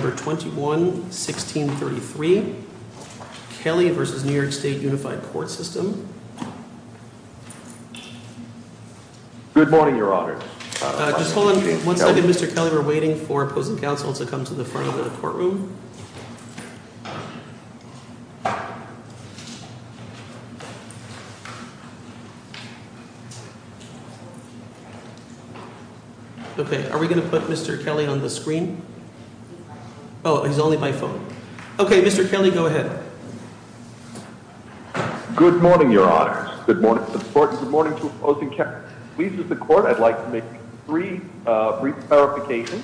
21 16 33 Kelly versus New York State Unified Court System. Good morning, Your Honor. Just hold on one second. Mr Kelly. We're waiting for opposing counsel to come to the front of the courtroom. Okay. Are we gonna put Mr Kelly on the screen? Oh, he's only my phone. Okay, Mr Kelly, go ahead. Good morning, Your Honor. Good morning. Good morning to opposing counsel. I'd like to make three brief clarifications.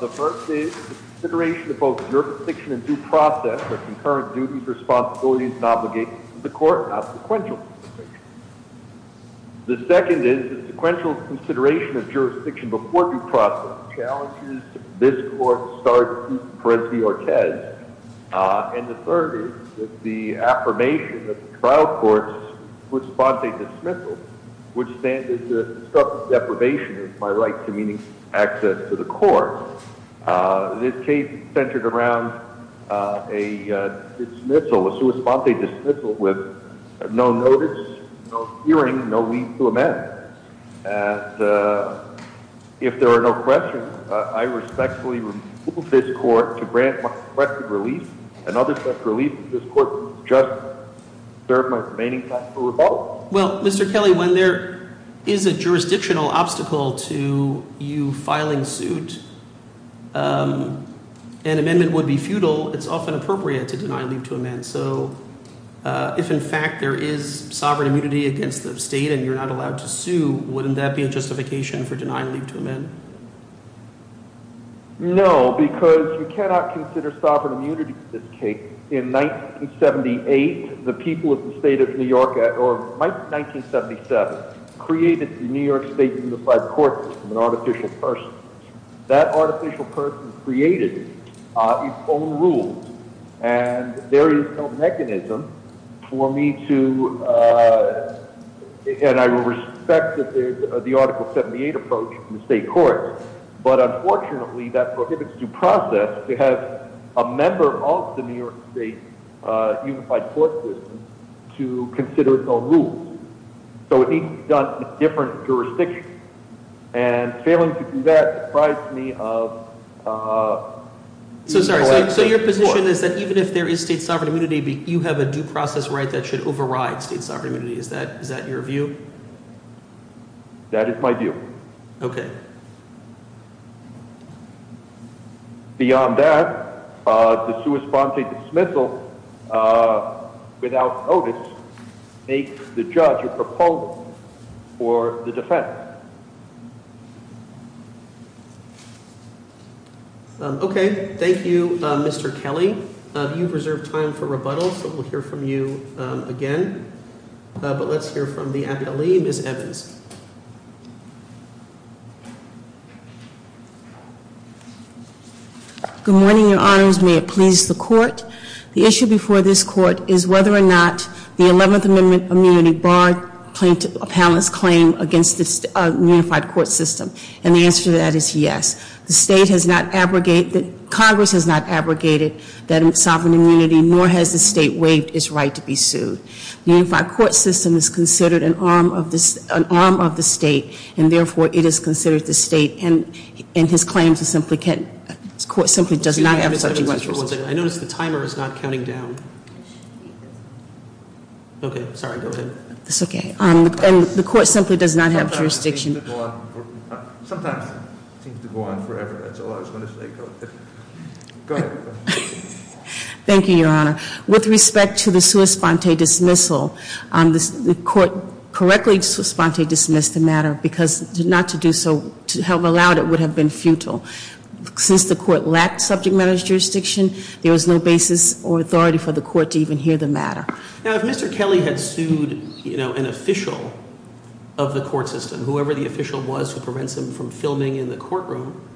The first is consideration of both jurisdiction and due process for concurrent duties, responsibilities and obligations to the court, not sequential. The second is a sequential consideration of jurisdiction before due process challenges this court to start with Perez v. Ortez. And the third is that the affirmation of the trial court's sua sponte dismissal would stand as a structure of deprivation of my right to meaning access to the court. This case centered around a dismissal, a sua sponte dismissal with no notice, no hearing, no leave to amend. And if there are no questions, I respectfully remove this court to grant my requested relief and other such relief to this court to just serve my remaining time for rebuttal. Well, Mr Kelly, when there is a jurisdictional obstacle to you filing suit, an amendment would be futile. It's often appropriate to deny leave to amend. So if, in fact, there is sovereign immunity against the state and you're not allowed to sue, wouldn't that be a justification for denying leave to amend? No, because you cannot consider sovereign immunity in this case. In 1978, the people of the state of New York or 1977 created the New York State Unified Court System, an artificial person. That artificial person created its own rules, and there is no mechanism for me to, and I respect that there's the Article 78 approach in the state court, but unfortunately that prohibits due process to have a member of the New York State Unified Court System to consider its own rules. So it needs to be done with different jurisdictions, and failing to do that surprised me of So sorry, so your position is that even if there is state sovereign immunity, you have a due process right that should override state sovereign immunity. Is that your view? That is my view. Okay. Beyond that, the sui sponte dismissal without notice makes the judge a proponent for the defense. Okay. Thank you, Mr. Kelly. You've reserved time for rebuttals, so we'll hear from you again. But let's hear from the appealee, Miss Evans. Good morning, your honors. May it please the court. The issue before this court is whether or not the 11th Amendment immunity barred appellant's claim against the Unified Court System, and the answer to that is yes. The state has not abrogated, Congress has not abrogated that sovereign immunity, nor has the state waived its right to be sued. The Unified Court System is considered an arm of the state, and therefore it is considered the state, and his claim to simply court simply does not have such jurisdiction. I notice the timer is not counting down. Okay. Sorry. Go ahead. It's okay. And the court simply does not have jurisdiction. Sometimes it seems to go on forever. That's all I was going to say. Go ahead. Thank you, your honor. With respect to the sui sponte matter, because not to do so, to have allowed it would have been futile. Since the court lacked subject matter jurisdiction, there was no basis or authority for the court to even hear the matter. Now, if Mr. Kelly had sued, you know, an official of the court system, whoever the official was who prevents him from filming in the courtroom,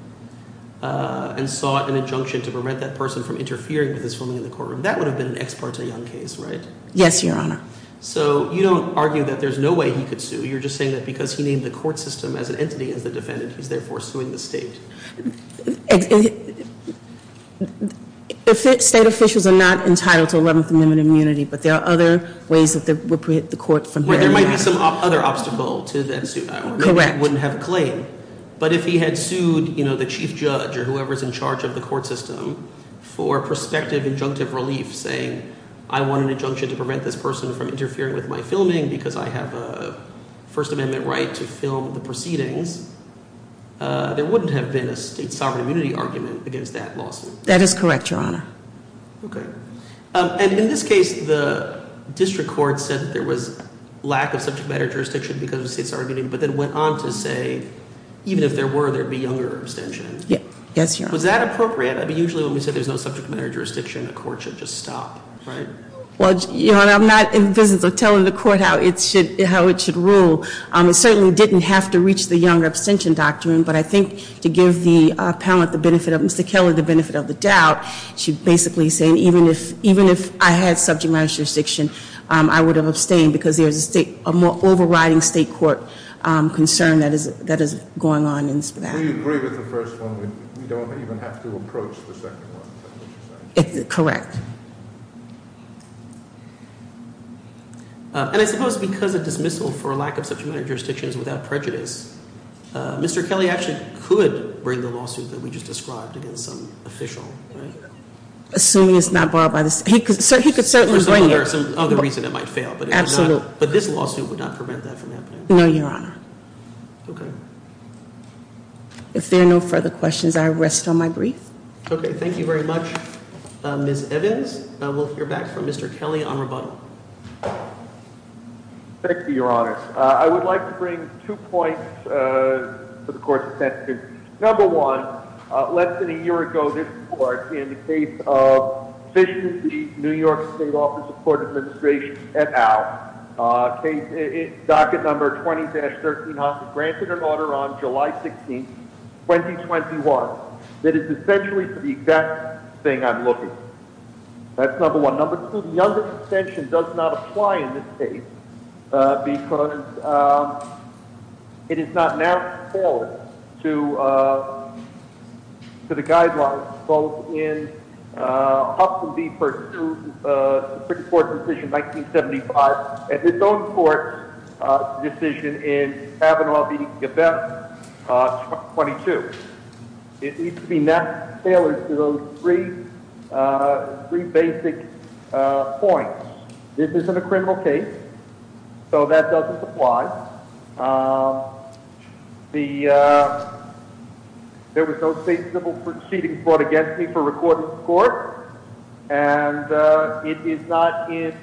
and sought an injunction to prevent that person from interfering with his filming in the courtroom, that would have been an ex parte young case, right? Yes, your honor. So you don't argue that there's no way he could sue. You're just saying that because he named the court system as an entity as the defendant, he's therefore suing the state. State officials are not entitled to 11th Amendment immunity, but there are other ways that would prohibit the court from hearing that. Where there might be some other obstacle to that suit. Correct. Maybe he wouldn't have a claim. But if he had sued, you know, the chief judge or whoever's in charge of the court system to prevent this person from interfering with my filming because I have a First Amendment right to film the proceedings, there wouldn't have been a state sovereign immunity argument against that lawsuit. That is correct, your honor. Okay. And in this case, the district court said that there was lack of subject matter jurisdiction because of the state sovereign immunity, but then went on to say, even if there were, there would be younger abstentions. Yes, your honor. Was that appropriate? Usually when we say there's no subject matter jurisdiction, the court should just stop, right? Your honor, I'm not in the business of telling the court how it should rule. It certainly didn't have to reach the younger abstention doctrine, but I think to give the appellant the benefit of, Mr. Kelly, the benefit of the doubt, she's basically saying even if I had subject matter jurisdiction, I would have abstained because there's a state, a more overriding state court concern that is going on in that. We agree with the first one. We don't even have to approach the second one. Correct. And I suppose because of dismissal for lack of subject matter jurisdictions without prejudice, Mr. Kelly actually could bring the lawsuit that we just described against some official, right? Assuming it's not borrowed by the state. He could certainly bring it. For some other reason it might fail. But this lawsuit would not prevent that from happening. No, your honor. If there are no further questions, I rest on my brief. Thank you very much, Ms. Evans. We'll hear back from Mr. Kelly on rebuttal. Thank you, your honor. I would like to bring two points to the court's attention. Number one, less than a year ago, this court in the case of efficiency, New York State Office of Court Administration et al. Docket number 20-13, granted an order on July 16th, 2021. That is essentially the exact thing I'm looking. That's number one. Number two, the under extension does not apply in this case because it is not forward to the guidelines both in Huffman v. Perdue Supreme Court decision 1975 and its own court decision in Kavanaugh v. Gabbett 22. It needs to be not tailored to those three three basic points. This isn't a criminal case, so that doesn't apply. There was no state civil proceedings brought against me for recording the court, and it is not in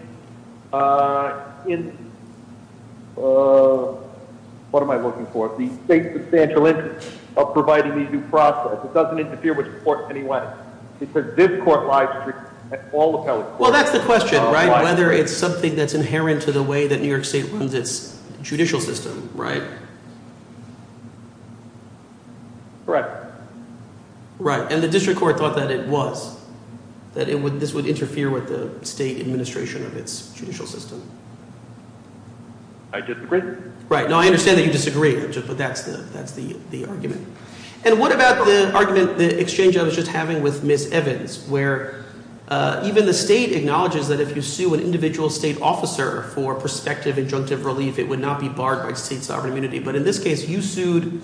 what am I looking for? The state substantial interest of providing the due process. It doesn't interfere with the court in any way. That's the question, right? Whether it's something that's inherent to the way that New York State runs its judicial system, right? Correct. Right. And the district court thought that it was, that this would interfere with the state administration of its judicial system. I disagree. Right. No, I understand that you disagree, but that's the argument. And what about the argument the exchange I was just having with Ms. Evans, where even the state acknowledges that if you sue an individual state officer for prospective injunctive relief, it would not be barred by state sovereign immunity. But in this case, you sued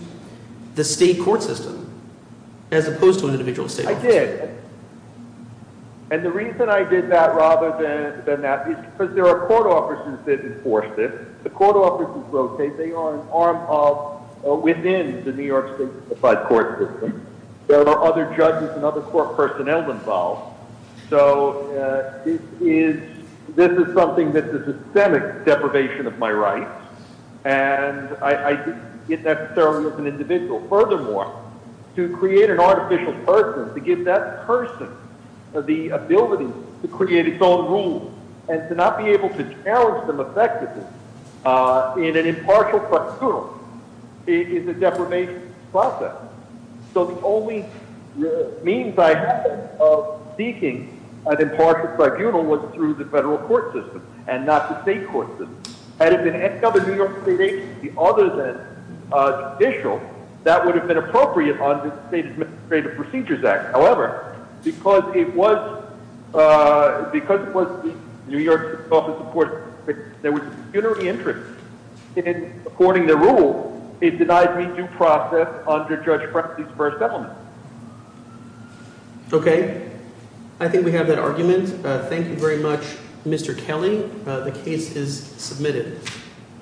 the state court system as opposed to an individual state officer. I did. And the reason I did that rather than that is because there are court officers that enforce this. The court officers rotate. They are an arm of, within the New York State certified court system. There are other judges and other court personnel involved. So this is something that's a systemic deprivation of my rights, and I didn't get that necessarily as an individual. Furthermore, to create an artificial person, to give that person the ability to create its own rules and to not be able to challenge them effectively in an impartial tribunal is a deprivation process. So the only means I had of seeking an impartial tribunal was through the federal court system and not the state court system. Had it been any other New York State agency other than judicial, that would have been appropriate under the State Administrative Procedures Act. However, because it was New York State's office of courts, there was a pecuniary interest in, according to the rule, it denied me due process under Judge Frensley's first settlement. Okay. I think we have that argument. Thank you very much, Mr. Kelly. The case is submitted.